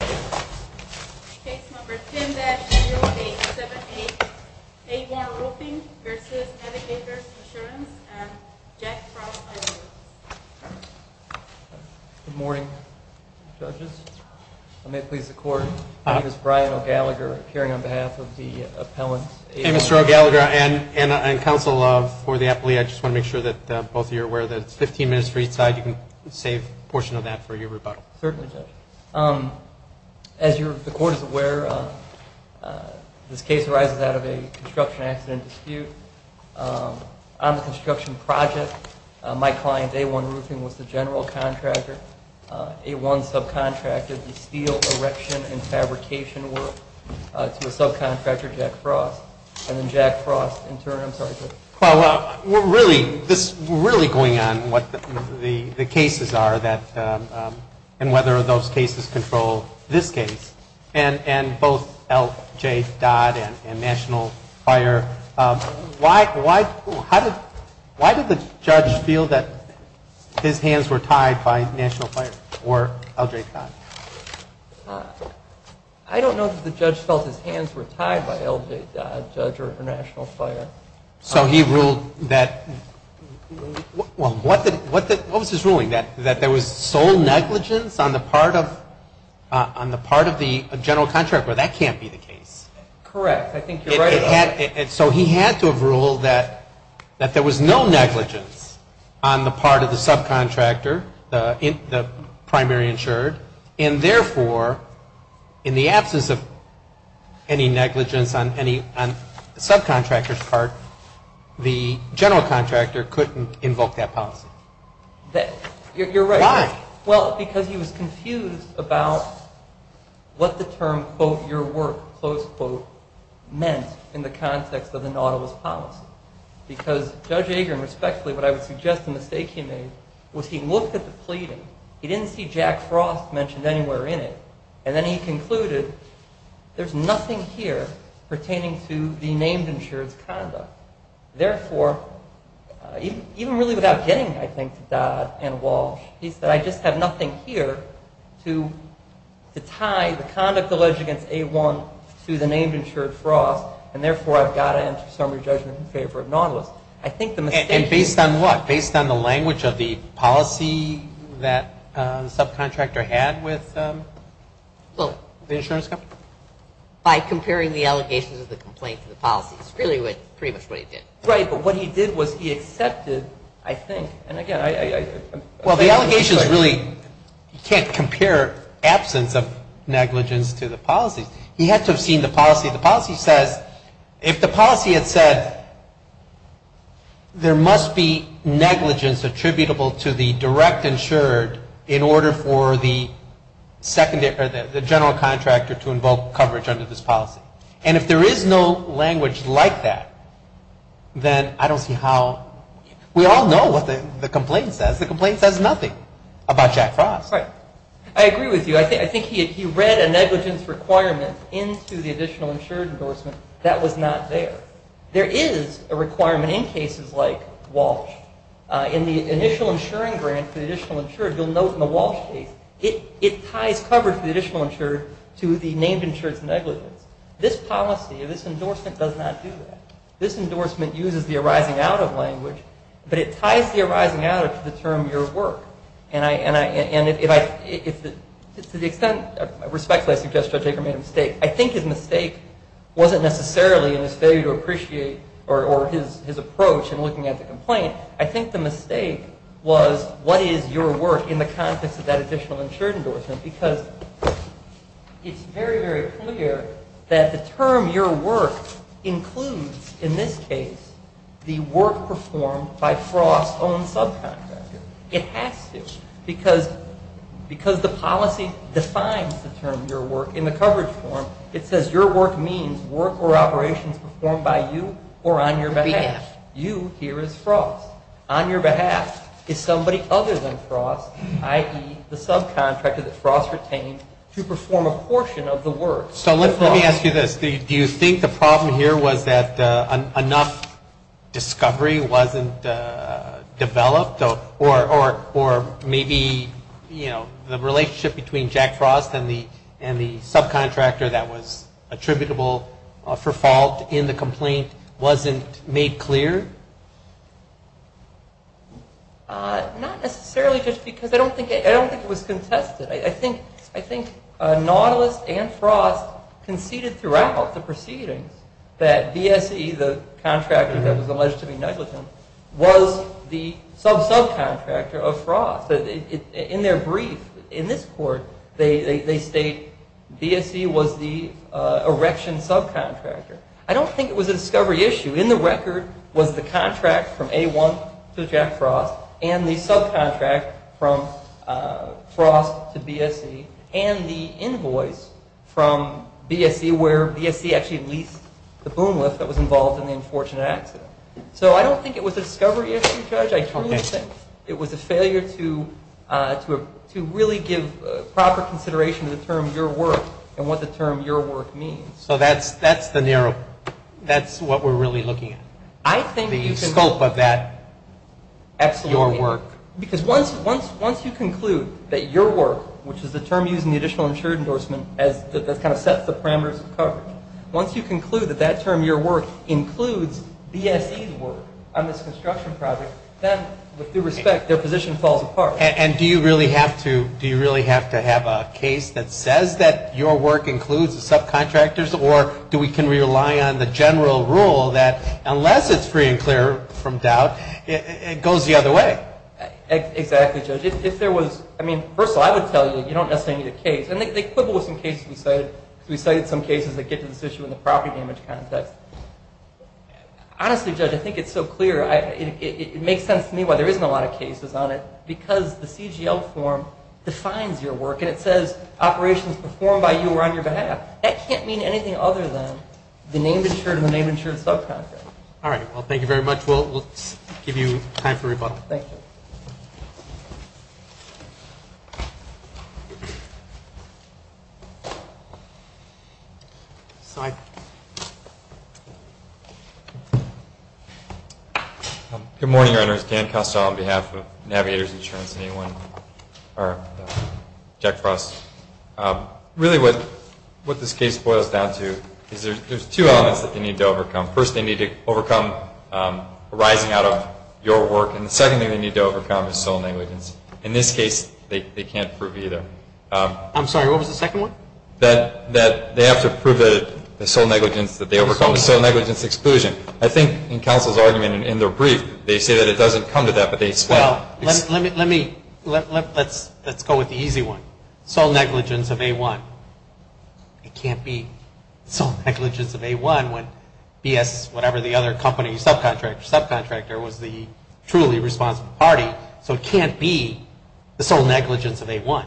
Good morning, Judges. I may please the Court. My name is Brian O'Gallagher, appearing on behalf of the Appellant A1 Roofing. And Mr. O'Gallagher and counsel for the appellee, I just want to make sure that both of you are aware that it's 15 minutes for each side. You can save a portion of that for your rebuttal. Certainly, Judge. As the Court is aware, this case arises out of a construction accident dispute. On the construction project, my client, A1 Roofing, was the general contractor. A1 subcontracted the steel, erection, and fabrication work to a subcontractor, Jack Frost. And then Jack Frost, in turn, I'm sorry, Judge. Well, we're really going on what the cases are and whether those cases control this case. And both LJ Dodd and National Fire, why did the judge feel that his hands were tied by National Fire or LJ Dodd? I don't know that the judge felt his hands were tied by LJ Dodd, Judge, or National Fire. So he ruled that, well, what was his ruling? That there was sole negligence on the part of the general contractor. That can't be the case. Correct. I think you're right about that. So he had to have ruled that there was no negligence on the part of the subcontractor, the primary insured. And therefore, in the absence of any negligence on the subcontractor's part, the general contractor couldn't invoke that policy. You're right. Why? Well, because he was confused about what the term, quote, your work, close quote, meant in the context of the Nautilus policy. Because Judge Agerin, respectfully, what I would suggest the mistake he made was he looked at the pleading, he didn't see Jack Frost mentioned anywhere in it, and then he concluded there's nothing here pertaining to the named insured's conduct. Therefore, even really without getting, I think, to Dodd and Walsh, he said I just have nothing here to tie the conduct alleged against A1 to the named insured Frost, and therefore I've got to enter summary judgment in favor of Nautilus. I think the mistake he made And based on what? Based on the language of the policy that the subcontractor had with the insurance company? By comparing the allegations of the complaint to the policies, really was pretty much what he did. Right, but what he did was he accepted, I think, and again, I Well, the allegations really, you can't compare absence of negligence to the policies. He had to have seen the policy. The policy says, if the policy had said there must be negligence attributable to the direct insured in order for the general contractor to invoke coverage under this policy. And if there is no language like that, then I don't see how, we all know what the complaint says. The complaint says nothing about Jack Frost. I agree with you. I think he read a negligence requirement into the additional insured endorsement that was not there. There is a requirement in cases like Walsh. In the initial insuring grant for the additional insured, you'll note in the Walsh case, it ties coverage for the additional insured to the named insured's negligence. This policy, this endorsement does not do that. This endorsement uses the arising out of language, but it ties the arising out of to the term your work. And to the extent, respectfully, I suggest Judge Aker made a mistake. I think his mistake wasn't necessarily in his failure to appreciate or his approach in looking at the complaint. I think the mistake was, what is your work in the context of that additional insured endorsement? Because it's very, very clear that the term your work includes, in this case, the work performed by Frost's own subcontractor. It has to, because the policy defines the term your work in the coverage form. It says your work means work or operations performed by you or on your behalf. You, here, is Frost. On your behalf is somebody other than Frost, i.e., the subcontractor that Frost retained, to perform a portion of the work. So let me ask you this. Do you think the problem here was that enough discovery wasn't developed? Or maybe, you know, the relationship between Jack Frost and the subcontractor that was attributable for fault in the complaint wasn't made clear? Not necessarily just because. I don't think it was contested. I think Nautilus and Frost conceded throughout the proceedings that BSE, the contractor that was alleged to be negligent, was the sub-subcontractor of Frost. In their brief, in this court, they state BSE was the erection subcontractor. I don't think it was a discovery issue. In the record was the contract from A1 to Jack Frost and the subcontract from Frost to BSE and the invoice from BSE where BSE actually leased the boom lift that was involved in the unfortunate accident. So I don't think it was a discovery issue, Judge. I truly think it was a failure to really give proper consideration to the term your work and what the term your work means. So that's the narrow, that's what we're really looking at. The scope of that, that's your work. Because once you conclude that your work, which is the term used in the additional insured endorsement that kind of sets the parameters of coverage, once you conclude that that term, your work, includes BSE's work on this construction project, then with due respect, their position falls apart. And do you really have to, do you really have to have a case that says that your work includes the subcontractors, or do we can rely on the general rule that unless it's free and clear from doubt, it goes the other way? Exactly, Judge. If there was, I mean, first of all, I would tell you, you don't necessarily need a case. And they quibble with some cases we cited. We cited some cases that get to this issue in the property damage context. Honestly, Judge, I think it's so clear. It makes sense to me why there isn't a lot of cases on it, because the CGL form defines your work, and it says operations performed by you or on your behalf. That can't mean anything other than the name insured and the name insured subcontractor. All right. Well, thank you very much. We'll give you time for rebuttal. Thank you. Good morning, Your Honors. Dan Costello on behalf of Navigator's Insurance and A1, or Jack Frost. Really what this case boils down to is there's two elements that they need to overcome. First, they need to overcome rising out of your work. And the second thing they need to overcome is sole negligence. In this case, they can't prove either. I'm sorry, what was the second one? That they have to prove that the sole negligence that they overcome is sole negligence exclusion. I think in counsel's argument in their brief, they say that it doesn't come to that, but they explain it. Well, let's go with the easy one. Sole negligence of A1. It can't be sole negligence of A1 when BS, whatever the other company, subcontractor, subcontractor was the truly responsible party. So it can't be the sole negligence of A1.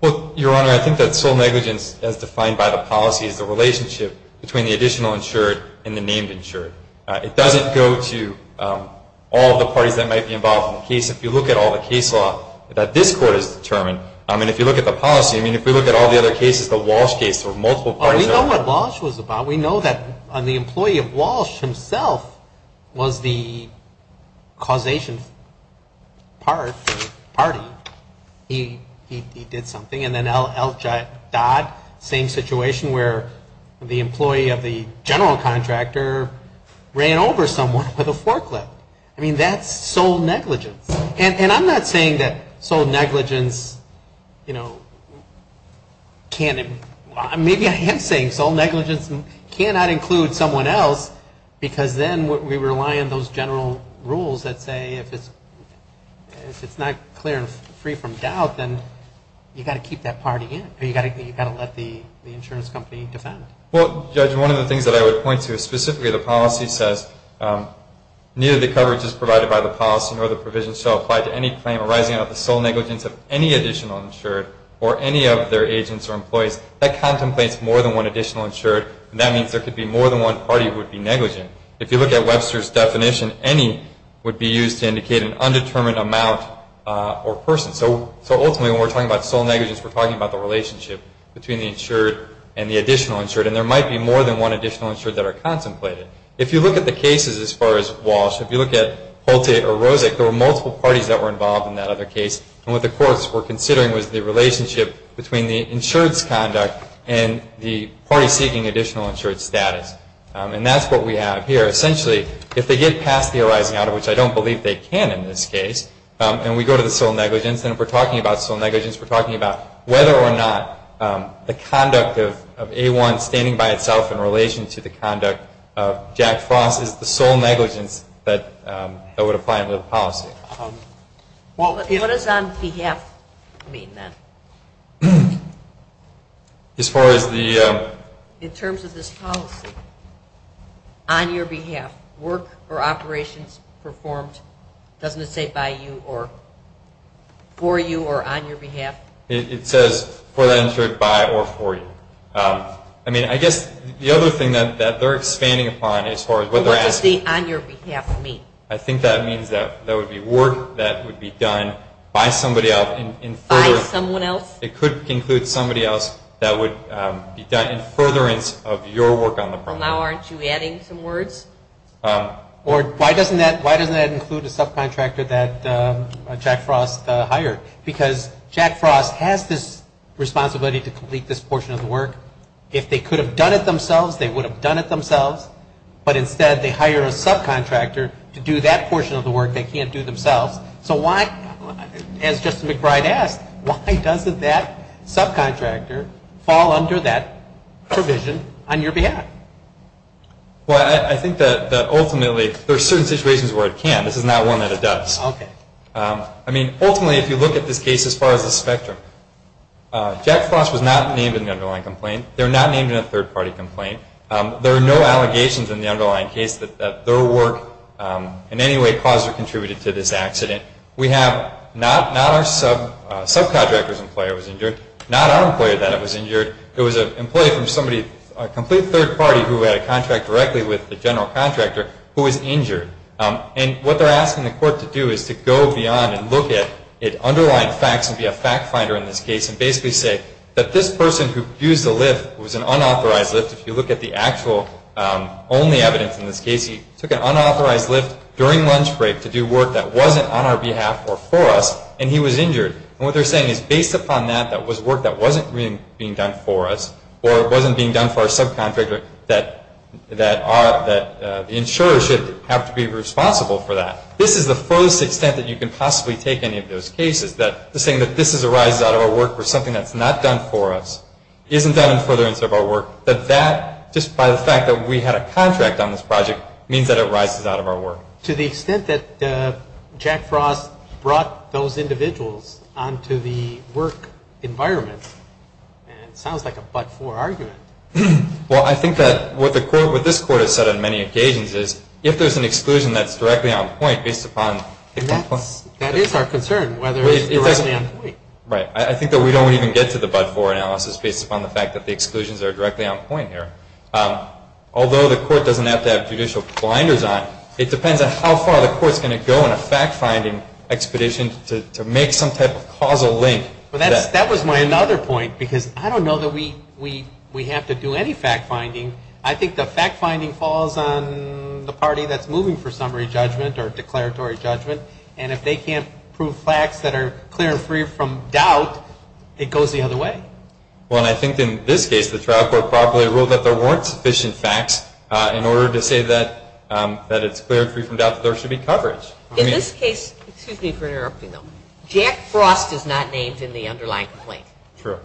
Well, Your Honor, I think that sole negligence, as defined by the policy, is the relationship between the additional insured and the named insured. It doesn't go to all the parties that might be involved in the case. If you look at all the case law that this Court has determined, and if you look at the policy, I mean, if we look at all the other cases, the Walsh case, there were multiple parties. We know what Walsh was about. We know that the employee of Walsh himself was the causation party. He did something. And then L. Dodd, same situation where the employee of the general contractor ran over someone with a forklift. I mean, that's sole negligence. And I'm not saying that sole negligence, you know, can't be. Maybe I am saying sole negligence cannot include someone else because then we rely on those general rules that say if it's not clear and free from doubt, then you've got to keep that party in, or you've got to let the insurance company defend it. Well, Judge, one of the things that I would point to is specifically the policy says, neither the coverage as provided by the policy nor the provision shall apply to any claim arising out of the sole negligence of any additional insured or any of their agents or employees. That contemplates more than one additional insured, and that means there could be more than one party who would be negligent. If you look at Webster's definition, any would be used to indicate an undetermined amount or person. So ultimately when we're talking about sole negligence, we're talking about the relationship between the insured and the additional insured, and there might be more than one additional insured that are contemplated. If you look at the cases as far as Walsh, if you look at Holte or Rosick, there were multiple parties that were involved in that other case, and what the courts were considering was the relationship between the insured's conduct and the party seeking additional insured status. And that's what we have here. Essentially, if they get past the arising out of which I don't believe they can in this case, and we go to the sole negligence, then if we're talking about sole negligence, we're talking about whether or not the conduct of A1 standing by itself in relation to the conduct of Jack Frost is the sole negligence that would apply under the policy. What does on behalf mean then? As far as the... In terms of this policy, on your behalf, work or operations performed, doesn't it say by you or for you or on your behalf? It says for that insured, by or for you. I mean, I guess the other thing that they're expanding upon as far as what they're asking... What does the on your behalf mean? I think that means that there would be work that would be done by somebody else in further... By someone else? It could include somebody else that would be done in furtherance of your work on the program. Well, now aren't you adding some words? Or why doesn't that include a subcontractor that Jack Frost hired? Because Jack Frost has this responsibility to complete this portion of the work. If they could have done it themselves, they would have done it themselves. But instead, they hire a subcontractor to do that portion of the work they can't do themselves. So why, as Justin McBride asked, why doesn't that subcontractor fall under that provision on your behalf? Well, I think that ultimately there are certain situations where it can. This is not one that it does. I mean, ultimately, if you look at this case as far as the spectrum, Jack Frost was not named in the underlying complaint. They're not named in a third-party complaint. There are no allegations in the underlying case that their work in any way, positively contributed to this accident. We have not our subcontractor's employee that was injured, not our employee that was injured. It was an employee from somebody, a complete third party who had a contract directly with the general contractor who was injured. And what they're asking the court to do is to go beyond and look at underlying facts and be a fact finder in this case and basically say that this person who used the lift was an unauthorized lift. If you look at the actual only evidence in this case, he took an unauthorized lift during lunch break to do work that wasn't on our behalf or for us, and he was injured. And what they're saying is based upon that, that was work that wasn't being done for us or wasn't being done for our subcontractor, that the insurer should have to be responsible for that. This is the furthest extent that you can possibly take any of those cases, that saying that this arises out of our work or something that's not done for us, isn't done in furtherance of our work, that that, just by the fact that we had a contract on this project, means that it arises out of our work. To the extent that Jack Frost brought those individuals onto the work environment, and it sounds like a but-for argument. Well, I think that what the court, what this court has said on many occasions is if there's an exclusion that's directly on point based upon... That is our concern, whether it's directly on point. Right. I think that we don't even get to the but-for analysis based upon the fact that the exclusions are directly on point here. Although the court doesn't have to have judicial blinders on, it depends on how far the court's going to go in a fact-finding expedition to make some type of causal link. That was my other point, because I don't know that we have to do any fact-finding. I think the fact-finding falls on the party that's moving for summary judgment or declaratory judgment, and if they can't prove facts that are clear and free from doubt, it goes the other way. Well, I think in this case the trial court probably ruled that there weren't sufficient facts in order to say that it's clear and free from doubt that there should be coverage. In this case, excuse me for interrupting though, Jack Frost is not named in the underlying complaint. True.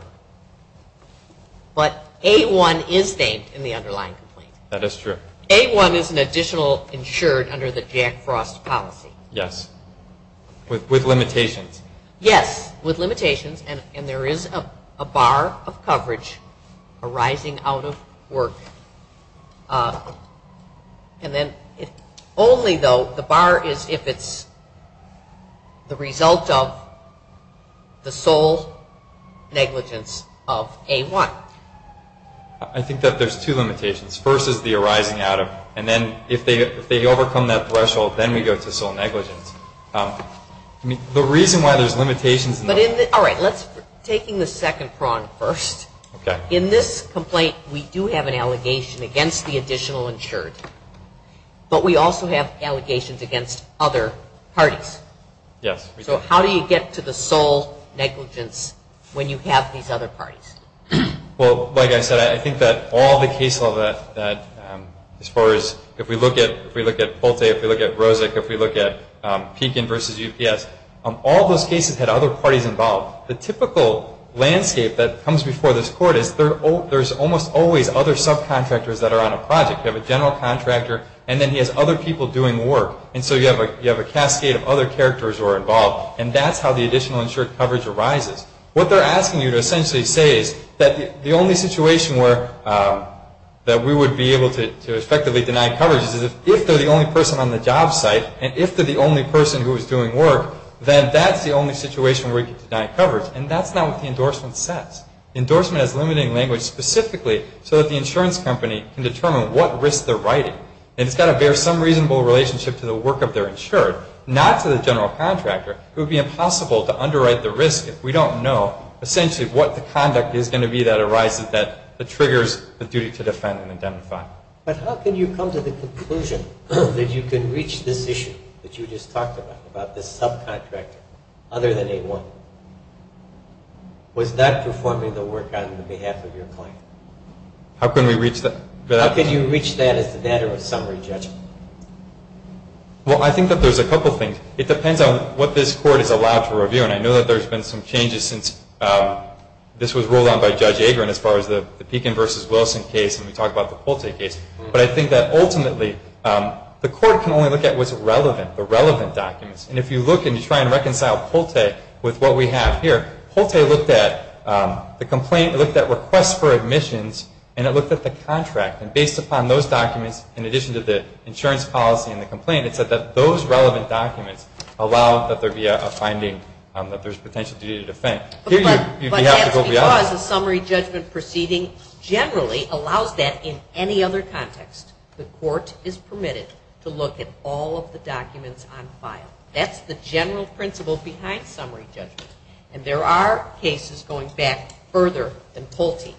But A-1 is named in the underlying complaint. That is true. A-1 is an additional insured under the Jack Frost policy. Yes, with limitations. Yes, with limitations, and there is a bar of coverage arising out of work. Only though, the bar is if it's the result of the sole negligence of A-1. I think that there's two limitations. The first is the arising out of, and then if they overcome that threshold, then we go to sole negligence. The reason why there's limitations. All right, taking the second prong first. In this complaint, we do have an allegation against the additional insured, but we also have allegations against other parties. Yes. So how do you get to the sole negligence when you have these other parties? Well, like I said, I think that all the case law that, as far as, if we look at Polte, if we look at Rosick, if we look at Pekin versus UPS, all those cases had other parties involved. The typical landscape that comes before this court is there's almost always other subcontractors that are on a project. You have a general contractor, and then he has other people doing work, and so you have a cascade of other characters who are involved, and that's how the additional insured coverage arises. What they're asking you to essentially say is that the only situation where that we would be able to effectively deny coverage is if they're the only person on the job site, and if they're the only person who is doing work, then that's the only situation where we can deny coverage, and that's not what the endorsement says. Endorsement has limiting language specifically so that the insurance company can determine what risk they're riding, and it's got to bear some reasonable relationship to the work of their insured, not to the general contractor. It would be impossible to underwrite the risk if we don't know essentially what the conduct is going to be that arises that triggers the duty to defend and identify. But how can you come to the conclusion that you can reach this issue that you just talked about, about this subcontractor other than A1? Was that performing the work on behalf of your client? How can we reach that? How can you reach that as a matter of summary judgment? Well, I think that there's a couple things. It depends on what this court is allowed to review, and I know that there's been some changes since this was ruled on by Judge Agron as far as the Pekin versus Wilson case and we talked about the Pulte case. But I think that ultimately the court can only look at what's relevant, the relevant documents. And if you look and you try and reconcile Pulte with what we have here, Pulte looked at the complaint, looked at requests for admissions, and it looked at the contract. And based upon those documents, in addition to the insurance policy and the complaint, it said that those relevant documents allow that there be a finding that there's potential duty to defend. But that's because a summary judgment proceeding generally allows that in any other context. The court is permitted to look at all of the documents on file. That's the general principle behind summary judgment. And there are cases, going back further than Pulte,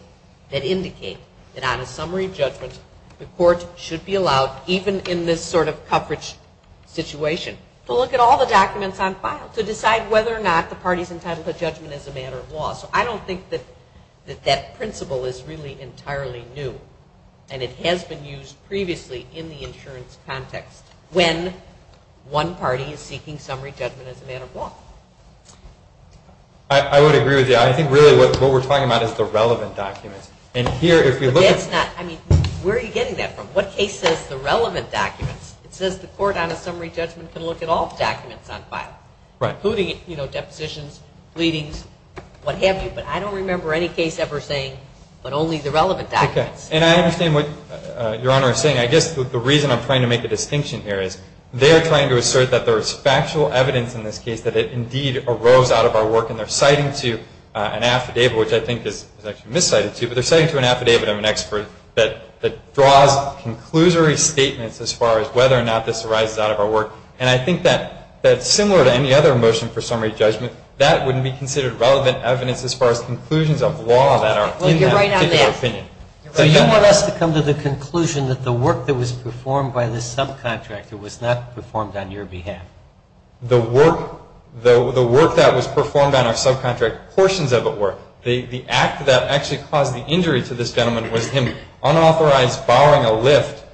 that indicate that on a summary judgment, the court should be allowed, even in this sort of coverage situation, to look at all the documents on file to decide whether or not the party is entitled to judgment as a matter of law. So I don't think that that principle is really entirely new and it has been used previously in the insurance context when one party is seeking summary judgment as a matter of law. I would agree with you. I think really what we're talking about is the relevant documents. Where are you getting that from? What case says the relevant documents? It says the court on a summary judgment can look at all the documents on file, including depositions, pleadings, what have you. But I don't remember any case ever saying but only the relevant documents. And I understand what Your Honor is saying. I guess the reason I'm trying to make a distinction here is they're trying to assert that there is factual evidence in this case that it indeed arose out of our work and they're citing to an affidavit, which I think is actually miscited too, but they're citing to an affidavit of an expert that draws conclusory statements as far as whether or not this arises out of our work. And I think that similar to any other motion for summary judgment, that wouldn't be considered relevant evidence as far as conclusions of law that are in that particular opinion. Well, you're right on that. So you want us to come to the conclusion that the work that was performed by this subcontractor was not performed on your behalf? The work that was performed on our subcontractor, what the proportions of it were, the act that actually caused the injury to this gentleman was him unauthorized borrowing a lift.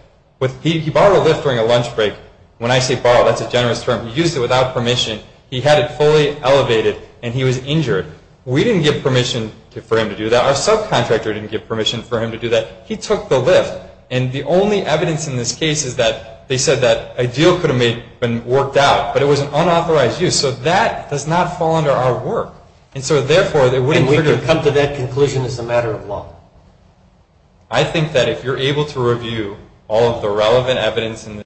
He borrowed a lift during a lunch break. When I say borrowed, that's a generous term. He used it without permission. He had it fully elevated and he was injured. We didn't give permission for him to do that. Our subcontractor didn't give permission for him to do that. He took the lift. And the only evidence in this case is that they said that a deal could have been worked out, but it was an unauthorized use. So that does not fall under our work. And we can come to that conclusion as a matter of law. I think that if you're able to review all of the relevant evidence in this case,